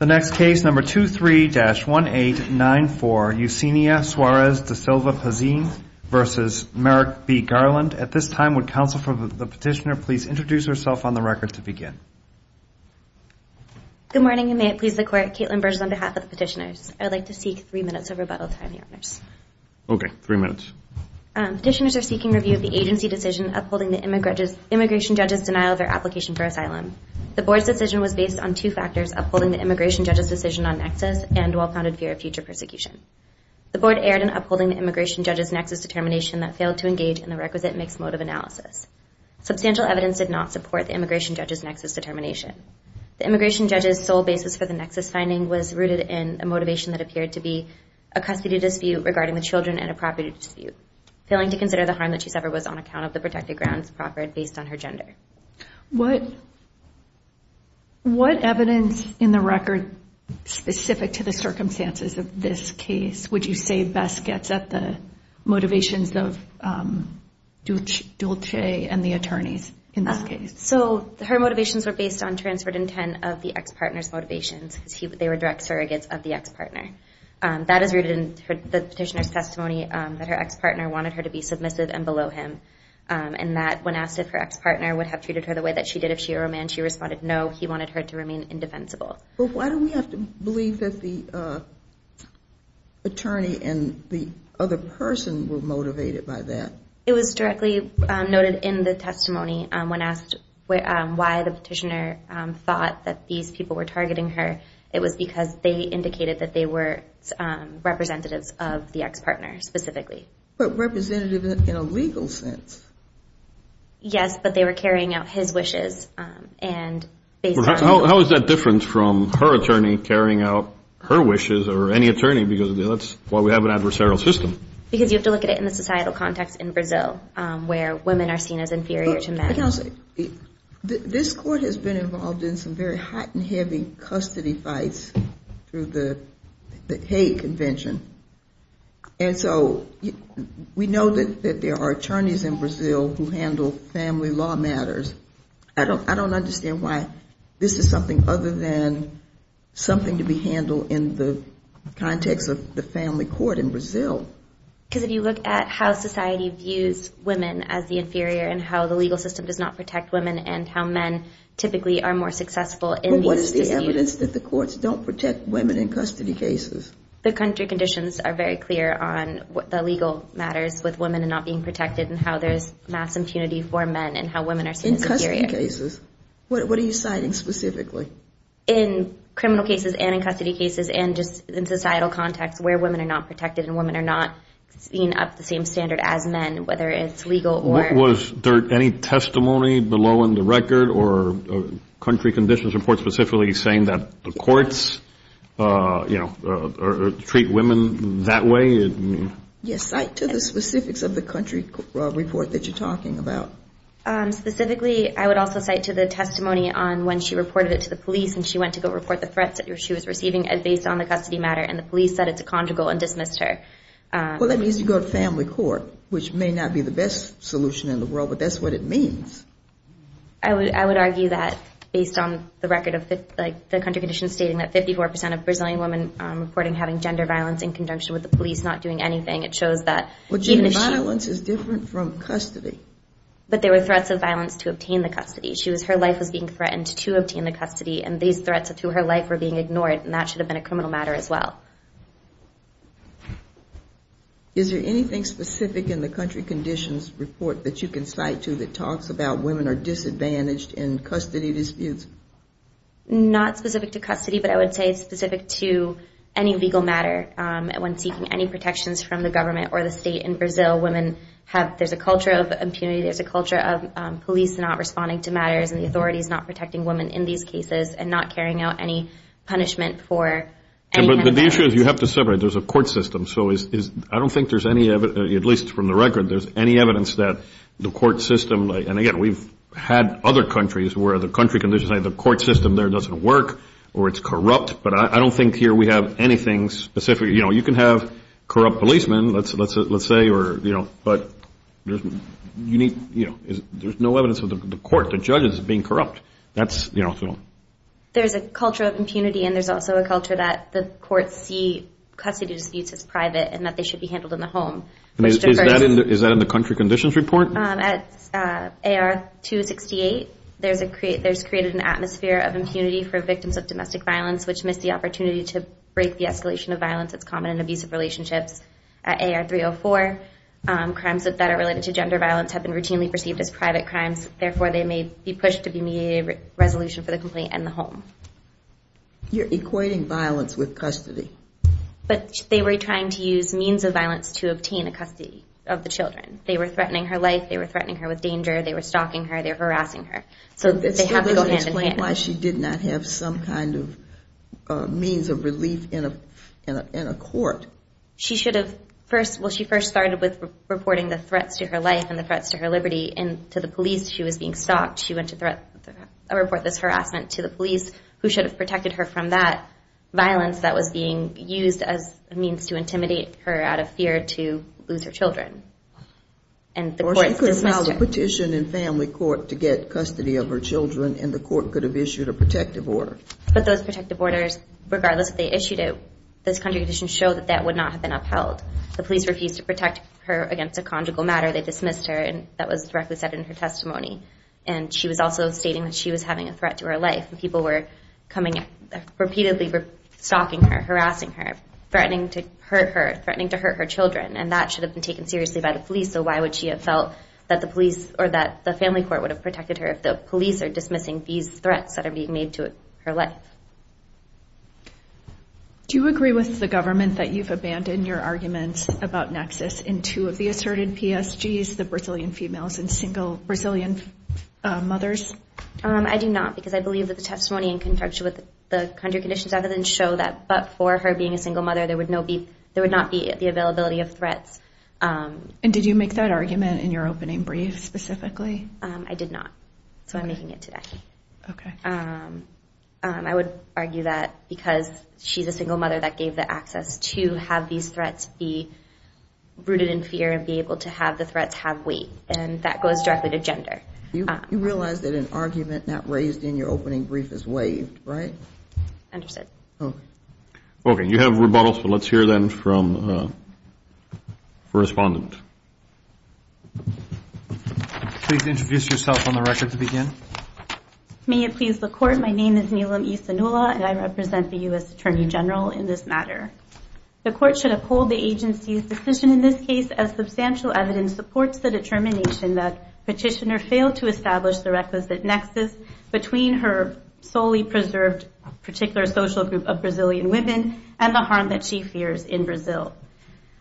23-1894 Eusenia Soares da Silva Pazine v. Merrick B. Garland Council for the petitioner please introduce herself on the record to begin Good morning and may it please the court, Caitlin Burges on behalf of the petitioners I would like to seek three minutes of rebuttal from the owners Okay, three minutes Petitioners are seeking review of the agency decision upholding the immigration judge's denial of their application for asylum The board's decision was based on two factors upholding the immigration judge's decision on nexus and well-founded fear of future persecution The board erred in upholding the immigration judge's nexus determination that failed to engage in the requisite mixed motive analysis Substantial evidence did not support the immigration judge's nexus determination The immigration judge's sole basis for the nexus finding was rooted in a motivation that appeared to be a custody dispute regarding the children and a property dispute Failing to consider the harm that she suffered was on account of the protected grounds proffered based on her gender What evidence in the record specific to the circumstances of this case would you say best gets at the motivations of Dulce and the attorneys in this case? So her motivations were based on transferred intent of the ex-partner's motivations They were direct surrogates of the ex-partner That is rooted in the petitioner's testimony that her ex-partner wanted her to be submissive and below him And that when asked if her ex-partner would have treated her the way that she did if she were a man, she responded no, he wanted her to remain indefensible But why do we have to believe that the attorney and the other person were motivated by that? It was directly noted in the testimony when asked why the petitioner thought that these people were targeting her It was because they indicated that they were representatives of the ex-partner specifically But representative in a legal sense Yes, but they were carrying out his wishes How is that different from her attorney carrying out her wishes or any attorney because that's why we have an adversarial system Because you have to look at it in the societal context in Brazil where women are seen as inferior to men This court has been involved in some very hot and heavy custody fights through the hate convention And so we know that there are attorneys in Brazil who handle family law matters I don't understand why this is something other than something to be handled in the context of the family court in Brazil Because if you look at how society views women as the inferior and how the legal system does not protect women and how men typically are more successful What's the evidence that the courts don't protect women in custody cases? The country conditions are very clear on what the legal matters with women and not being protected And how there's mass impunity for men and how women are seen as inferior In custody cases, what are you citing specifically? In criminal cases and in custody cases and just in societal context where women are not protected And women are not seen up to the same standard as men whether it's legal or Was there any testimony below in the record or country conditions report specifically saying that the courts Treat women that way? Yes, cite to the specifics of the country report that you're talking about Specifically, I would also cite to the testimony on when she reported it to the police and she went to go report the threats that she was receiving Based on the custody matter and the police said it's a conjugal and dismissed her Well, that means you go to family court, which may not be the best solution in the world, but that's what it means I would argue that based on the record of the country conditions stating that 54% of Brazilian women reporting having gender violence In conjunction with the police not doing anything, it shows that Well, gender violence is different from custody But there were threats of violence to obtain the custody Her life was being threatened to obtain the custody and these threats to her life were being ignored And that should have been a criminal matter as well Is there anything specific in the country conditions report that you can cite to that talks about women are disadvantaged in custody disputes? Not specific to custody, but I would say it's specific to any legal matter When seeking any protections from the government or the state in Brazil, women have There's a culture of impunity, there's a culture of police not responding to matters And the authorities not protecting women in these cases and not carrying out any punishment for The issue is you have to separate, there's a court system So I don't think there's any evidence, at least from the record, there's any evidence that the court system And again, we've had other countries where the country conditions say the court system there doesn't work or it's corrupt But I don't think here we have anything specific You can have corrupt policemen, let's say, but there's no evidence of the court, the judges being corrupt There's a culture of impunity and there's also a culture that the courts see custody disputes as private And that they should be handled in the home Is that in the country conditions report? At AR 268, there's created an atmosphere of impunity for victims of domestic violence Which missed the opportunity to break the escalation of violence that's common in abusive relationships At AR 304, crimes that are related to gender violence have been routinely perceived as private crimes Therefore, they may be pushed to be made a resolution for the complaint in the home You're equating violence with custody But they were trying to use means of violence to obtain a custody of the children They were threatening her life, they were threatening her with danger, they were stalking her, they were harassing her So they have to go hand in hand That still doesn't explain why she did not have some kind of means of relief in a court She should have first, well, she first started with reporting the threats to her life and the threats to her liberty And to the police she was being stalked She went to report this harassment to the police Who should have protected her from that violence that was being used as a means to intimidate her out of fear to lose her children Or she could have filed a petition in family court to get custody of her children And the court could have issued a protective order But those protective orders, regardless if they issued it Those country conditions show that that would not have been upheld The police refused to protect her against a conjugal matter They dismissed her and that was directly said in her testimony And she was also stating that she was having a threat to her life And people were coming, repeatedly stalking her, harassing her Threatening to hurt her, threatening to hurt her children And that should have been taken seriously by the police So why would she have felt that the police or that the family court would have protected her If the police are dismissing these threats that are being made to her life Do you agree with the government that you've abandoned your argument about nexus In two of the asserted PSGs, the Brazilian females and single Brazilian mothers? I do not, because I believe that the testimony in conjunction with the country conditions Other than show that but for her being a single mother there would not be the availability of threats And did you make that argument in your opening brief specifically? I did not, so I'm making it today I would argue that because she's a single mother that gave the access to have these threats Be rooted in fear and be able to have the threats have weight And that goes directly to gender You realize that an argument not raised in your opening brief is waived, right? Understood Okay, you have rebuttal, so let's hear then from the respondent Please introduce yourself on the record to begin May it please the court, my name is Nilam E. Sanula And I represent the U.S. Attorney General in this matter The court should uphold the agency's decision in this case As substantial evidence supports the determination that Petitioner failed to establish the requisite nexus Between her solely preserved particular social group of Brazilian women And the harm that she fears in Brazil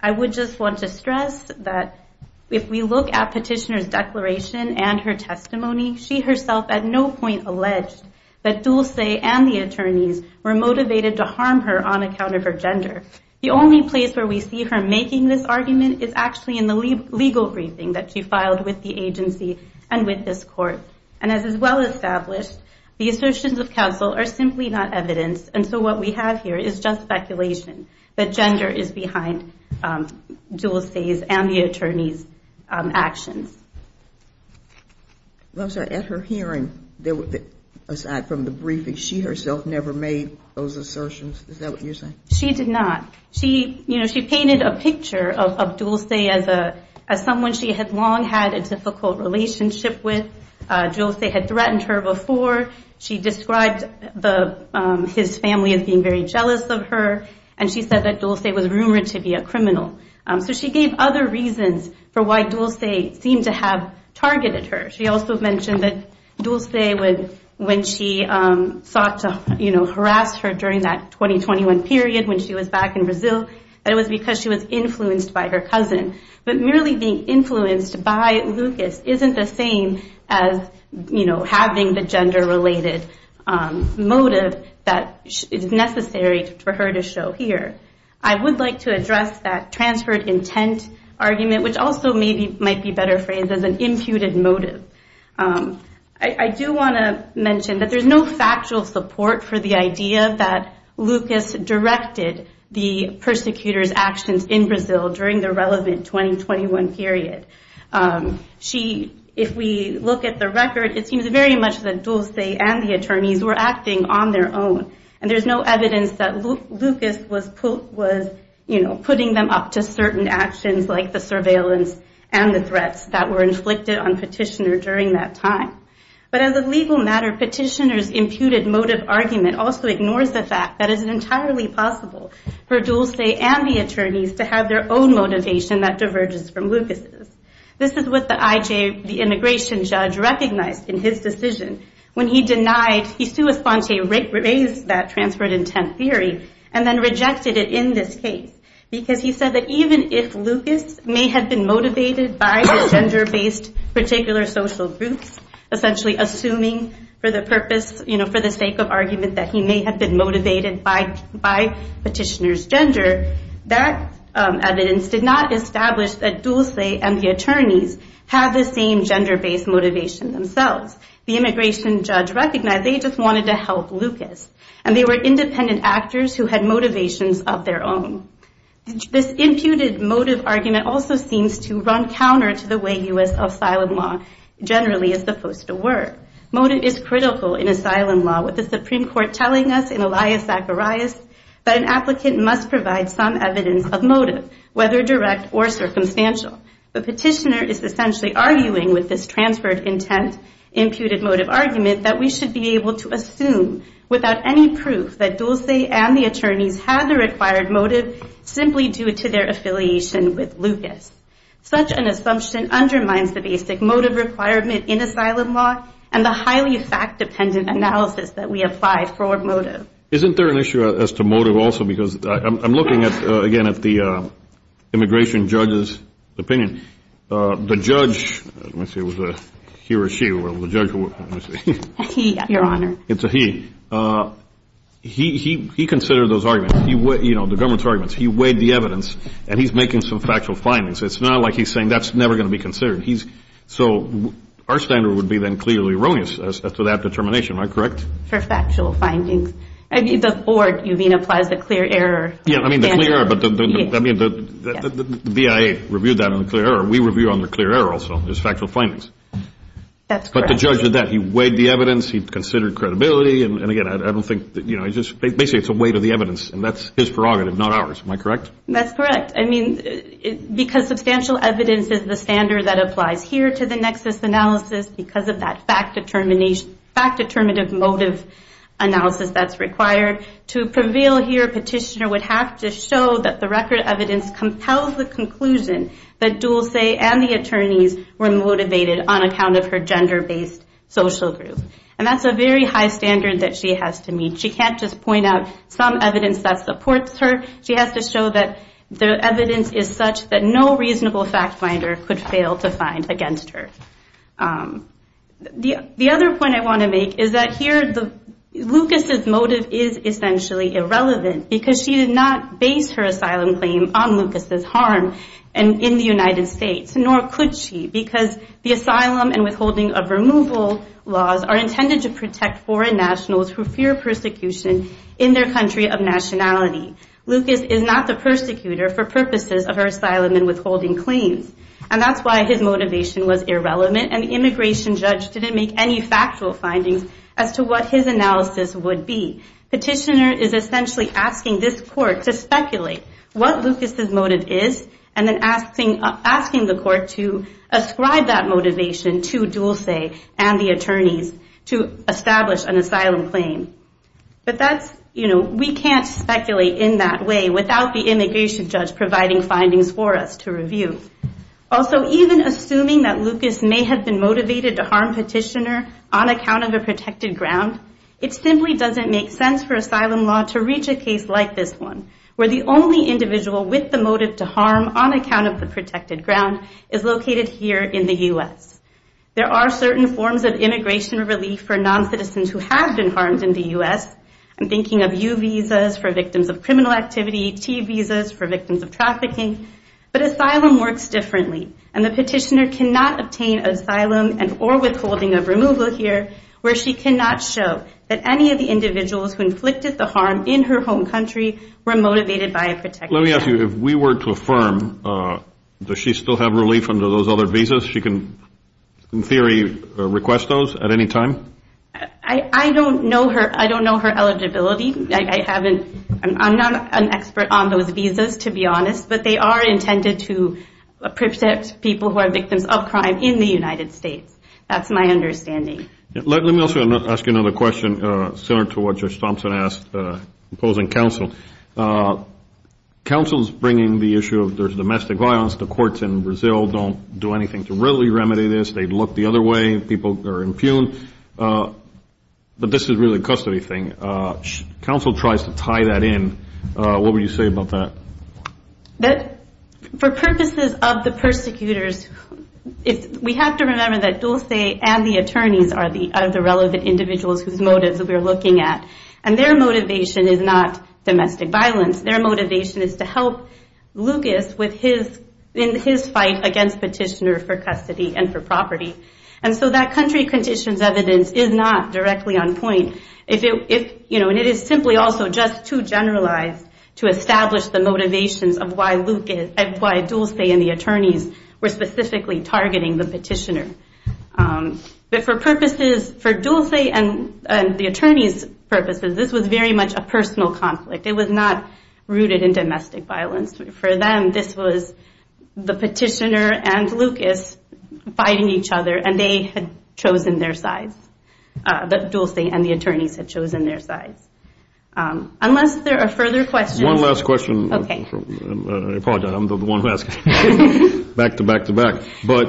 I would just want to stress that if we look at petitioner's declaration And her testimony, she herself at no point alleged That Dulce and the attorneys were motivated to harm her on account of her gender The only place where we see her making this argument Is actually in the legal briefing that she filed with the agency And with this court And as is well established, the assertions of counsel are simply not evidence And so what we have here is just speculation That gender is behind Dulce's and the attorney's actions I'm sorry, at her hearing, aside from the briefing She herself never made those assertions, is that what you're saying? She did not She painted a picture of Dulce as someone she had long had a difficult relationship with Dulce had threatened her before She described his family as being very jealous of her And she said that Dulce was rumored to be a criminal So she gave other reasons for why Dulce seemed to have targeted her She also mentioned that Dulce, when she sought to harass her During that 2021 period when she was back in Brazil That it was because she was influenced by her cousin But merely being influenced by Lucas isn't the same As having the gender-related motive that is necessary for her to show here I would like to address that transferred intent argument Which also might be better phrased as an imputed motive I do want to mention that there's no factual support for the idea That Lucas directed the persecutor's actions in Brazil During the relevant 2021 period If we look at the record It seems very much that Dulce and the attorneys were acting on their own And there's no evidence that Lucas was putting them up to certain actions Like the surveillance and the threats that were inflicted on Petitioner during that time But as a legal matter, Petitioner's imputed motive argument Also ignores the fact that it is entirely possible For Dulce and the attorneys to have their own motivation that diverges from Lucas' This is what the immigration judge recognized in his decision When he denied, he sui sponte raised that transferred intent theory And then rejected it in this case Because he said that even if Lucas may have been motivated By his gender-based particular social groups Essentially assuming for the purpose, for the sake of argument That he may have been motivated by Petitioner's gender That evidence did not establish that Dulce and the attorneys Had the same gender-based motivation themselves The immigration judge recognized they just wanted to help Lucas And they were independent actors who had motivations of their own This imputed motive argument also seems to run counter to the way U.S. asylum law generally is supposed to work Motive is critical in asylum law With the Supreme Court telling us in Elias Zacharias That an applicant must provide some evidence of motive Whether direct or circumstantial But Petitioner is essentially arguing with this transferred intent Imputed motive argument that we should be able to assume Without any proof that Dulce and the attorneys had the required motive Simply due to their affiliation with Lucas Such an assumption undermines the basic motive requirement in asylum law And the highly fact-dependent analysis that we apply for motive Isn't there an issue as to motive also Because I'm looking again at the immigration judge's opinion The judge, let me see, it was a he or she Well, the judge, let me see A he, your honor It's a he He considered those arguments You know, the government's arguments He weighed the evidence and he's making some factual findings It's not like he's saying that's never going to be considered So our standard would be then clearly erroneous As to that determination, am I correct? For factual findings I mean, the board, you mean, applies the clear error standard Yeah, I mean, the clear error But the BIA reviewed that on the clear error We review on the clear error also as factual findings That's correct But the judge did that He weighed the evidence He considered credibility And again, I don't think You know, basically it's a weight of the evidence And that's his prerogative, not ours Am I correct? That's correct Because substantial evidence is the standard That applies here to the nexus analysis Because of that fact-determinative motive analysis that's required To prevail here, petitioner would have to show That the record evidence compels the conclusion That Dulce and the attorneys were motivated On account of her gender-based social group And that's a very high standard that she has to meet She can't just point out some evidence that supports her She has to show that the evidence is such That no reasonable fact-finder could fail to find against her The other point I want to make is that here Lucas' motive is essentially irrelevant Because she did not base her asylum claim on Lucas' harm In the United States Nor could she Because the asylum and withholding of removal laws Are intended to protect foreign nationals Who fear persecution in their country of nationality Lucas is not the persecutor for purposes Of her asylum and withholding claims And that's why his motivation was irrelevant And the immigration judge didn't make any factual findings As to what his analysis would be Petitioner is essentially asking this court To speculate what Lucas' motive is And then asking the court to ascribe that motivation To Dulce and the attorneys to establish an asylum claim But we can't speculate in that way Without the immigration judge providing findings for us to review Also, even assuming that Lucas may have been motivated To harm petitioner on account of a protected ground It simply doesn't make sense for asylum law To reach a case like this one Where the only individual with the motive to harm On account of the protected ground Is located here in the U.S. There are certain forms of immigration relief For non-citizens who have been harmed in the U.S. I'm thinking of U visas for victims of criminal activity T visas for victims of trafficking But asylum works differently And the petitioner cannot obtain asylum And or withholding of removal here Where she cannot show that any of the individuals Who inflicted the harm in her home country Were motivated by a protected ground Let me ask you, if we were to affirm Does she still have relief under those other visas? She can, in theory, request those at any time? I don't know her eligibility I'm not an expert on those visas, to be honest But they are intended to protect people Who are victims of crime in the United States That's my understanding Let me also ask you another question Similar to what Judge Thompson asked Opposing counsel Counsel's bringing the issue of domestic violence The courts in Brazil don't do anything to really remedy this They look the other way People are impugned But this is really a custody thing Counsel tries to tie that in What would you say about that? For purposes of the persecutors We have to remember that Dulce and the attorneys Are the relevant individuals Whose motives we are looking at And their motivation is not domestic violence Their motivation is to help Lucas In his fight against Petitioner For custody and for property And so that country condition's evidence Is not directly on point And it is simply also just too generalized To establish the motivations Of why Dulce and the attorneys Were specifically targeting the Petitioner But for purposes For Dulce and the attorneys' purposes This was very much a personal conflict It was not rooted in domestic violence For them this was the Petitioner and Lucas Fighting each other And they had chosen their sides Dulce and the attorneys had chosen their sides Unless there are further questions One last question I apologize, I'm the one who asked Back to back to back But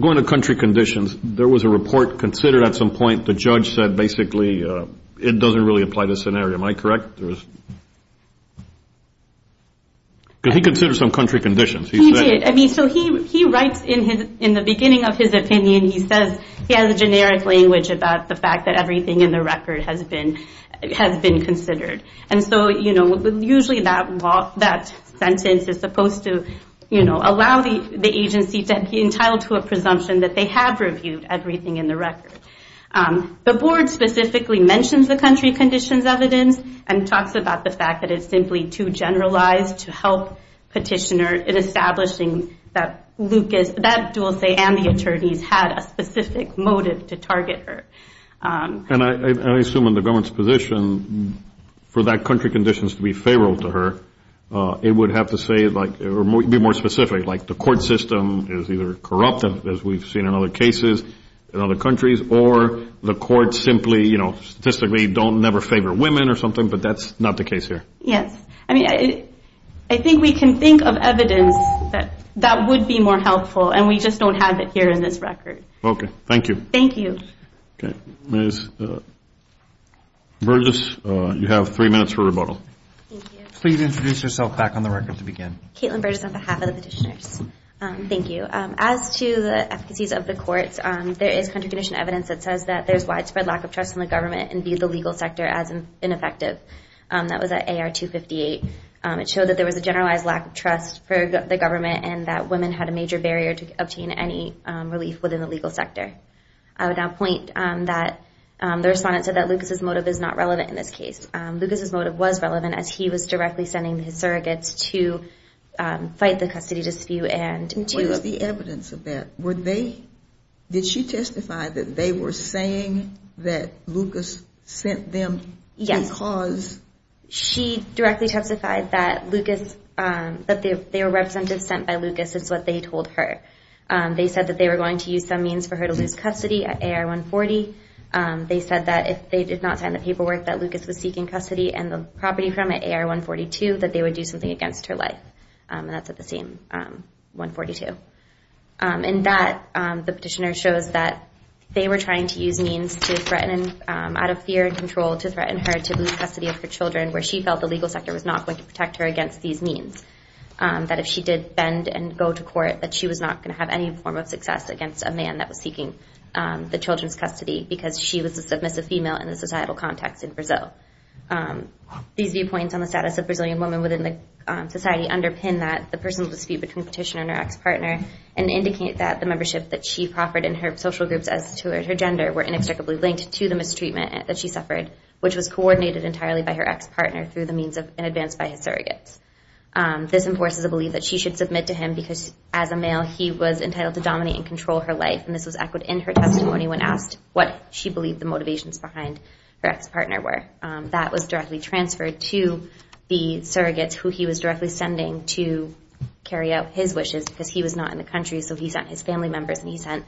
going to country conditions There was a report considered at some point The judge said basically It doesn't really apply to this scenario Am I correct? Did he consider some country conditions? He did, I mean so he writes In the beginning of his opinion He says he has a generic language About the fact that everything in the record Has been considered And so usually that sentence Is supposed to allow the agency To be entitled to a presumption That they have reviewed everything in the record The board specifically mentions The country conditions evidence And talks about the fact that it's simply Too generalized to help Petitioner In establishing that Lucas That Dulce and the attorneys Had a specific motive to target her And I assume in the government's position For that country conditions to be favorable to her It would have to be more specific Like the court system is either corrupt As we've seen in other cases In other countries Or the courts simply Statistically never favor women But that's not the case here Yes, I think we can think of evidence That would be more helpful And we just don't have it here in this record Okay, thank you Thank you Okay, Ms. Burgess You have three minutes for rebuttal Please introduce yourself back on the record to begin Caitlin Burgess on behalf of the petitioners Thank you As to the efficacies of the courts There is country conditions evidence That says that there's widespread lack of trust In the government and view the legal sector as ineffective That was at AR 258 It showed that there was a generalized lack of trust For the government And that women had a major barrier To obtain any relief within the legal sector I would now point that The respondent said that Lucas' motive Is not relevant in this case Lucas' motive was relevant As he was directly sending his surrogates To fight the custody dispute What was the evidence of that? Did she testify That they were saying That Lucas sent them Because She directly testified that Lucas That they were representative sent by Lucas Is what they told her They said that they were going to use some means For her to lose custody at AR 140 They said that if they did not sign the paperwork That Lucas was seeking custody And the property from at AR 142 That they would do something against her life And that's at the same AR 142 And that The petitioner shows that They were trying to use means Out of fear and control To threaten her to lose custody of her children Where she felt the legal sector was not going to protect her Against these means That if she did bend and go to court That she was not going to have any form of success Against a man that was seeking the children's custody Because she was a submissive female In the societal context in Brazil These viewpoints on the status of Brazilian women Within the society underpin The personal dispute between the petitioner and her ex-partner And indicate that the membership That she proffered in her social groups As to her gender were inextricably linked To the mistreatment that she suffered Which was coordinated entirely by her ex-partner Through the means in advance by his surrogates This enforces a belief that she should submit to him Because as a male He was entitled to dominate and control her life And this was echoed in her testimony When asked what she believed the motivations Behind her ex-partner were That was directly transferred to the surrogates Who he was directly sending To carry out his wishes Because he was not in the country So he sent his family members And he sent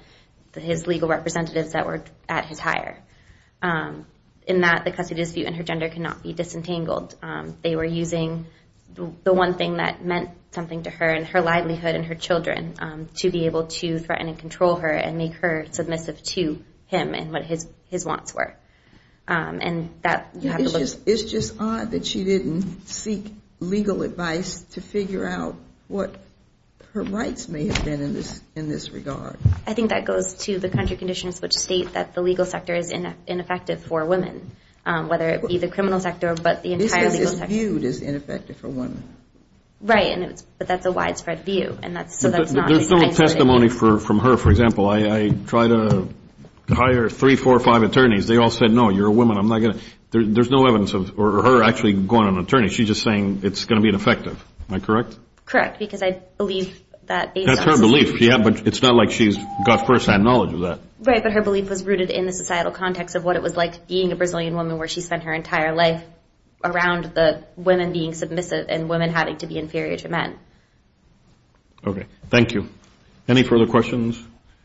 his legal representatives That were at his hire In that the custody dispute and her gender Could not be disentangled They were using the one thing That meant something to her And her livelihood and her children To be able to threaten and control her And make her submissive to him And what his wants were And that It's just odd that she didn't seek Legal advice to figure out What her rights may have been In this regard I think that goes to the country conditions Which state that the legal sector Is ineffective for women Whether it be the criminal sector But the entire legal sector This is viewed as ineffective for women Right, but that's a widespread view There's some testimony from her For example, I try to Hire three, four, five attorneys They all said no, you're a woman There's no evidence of her actually Going to an attorney, she's just saying It's going to be ineffective, am I correct? Correct, because I believe That's her belief, but it's not like She's got firsthand knowledge of that Right, but her belief was rooted in the societal context Of what it was like being a Brazilian woman Where she spent her entire life Around the women being submissive And women having to be inferior to men Okay, thank you Any further questions?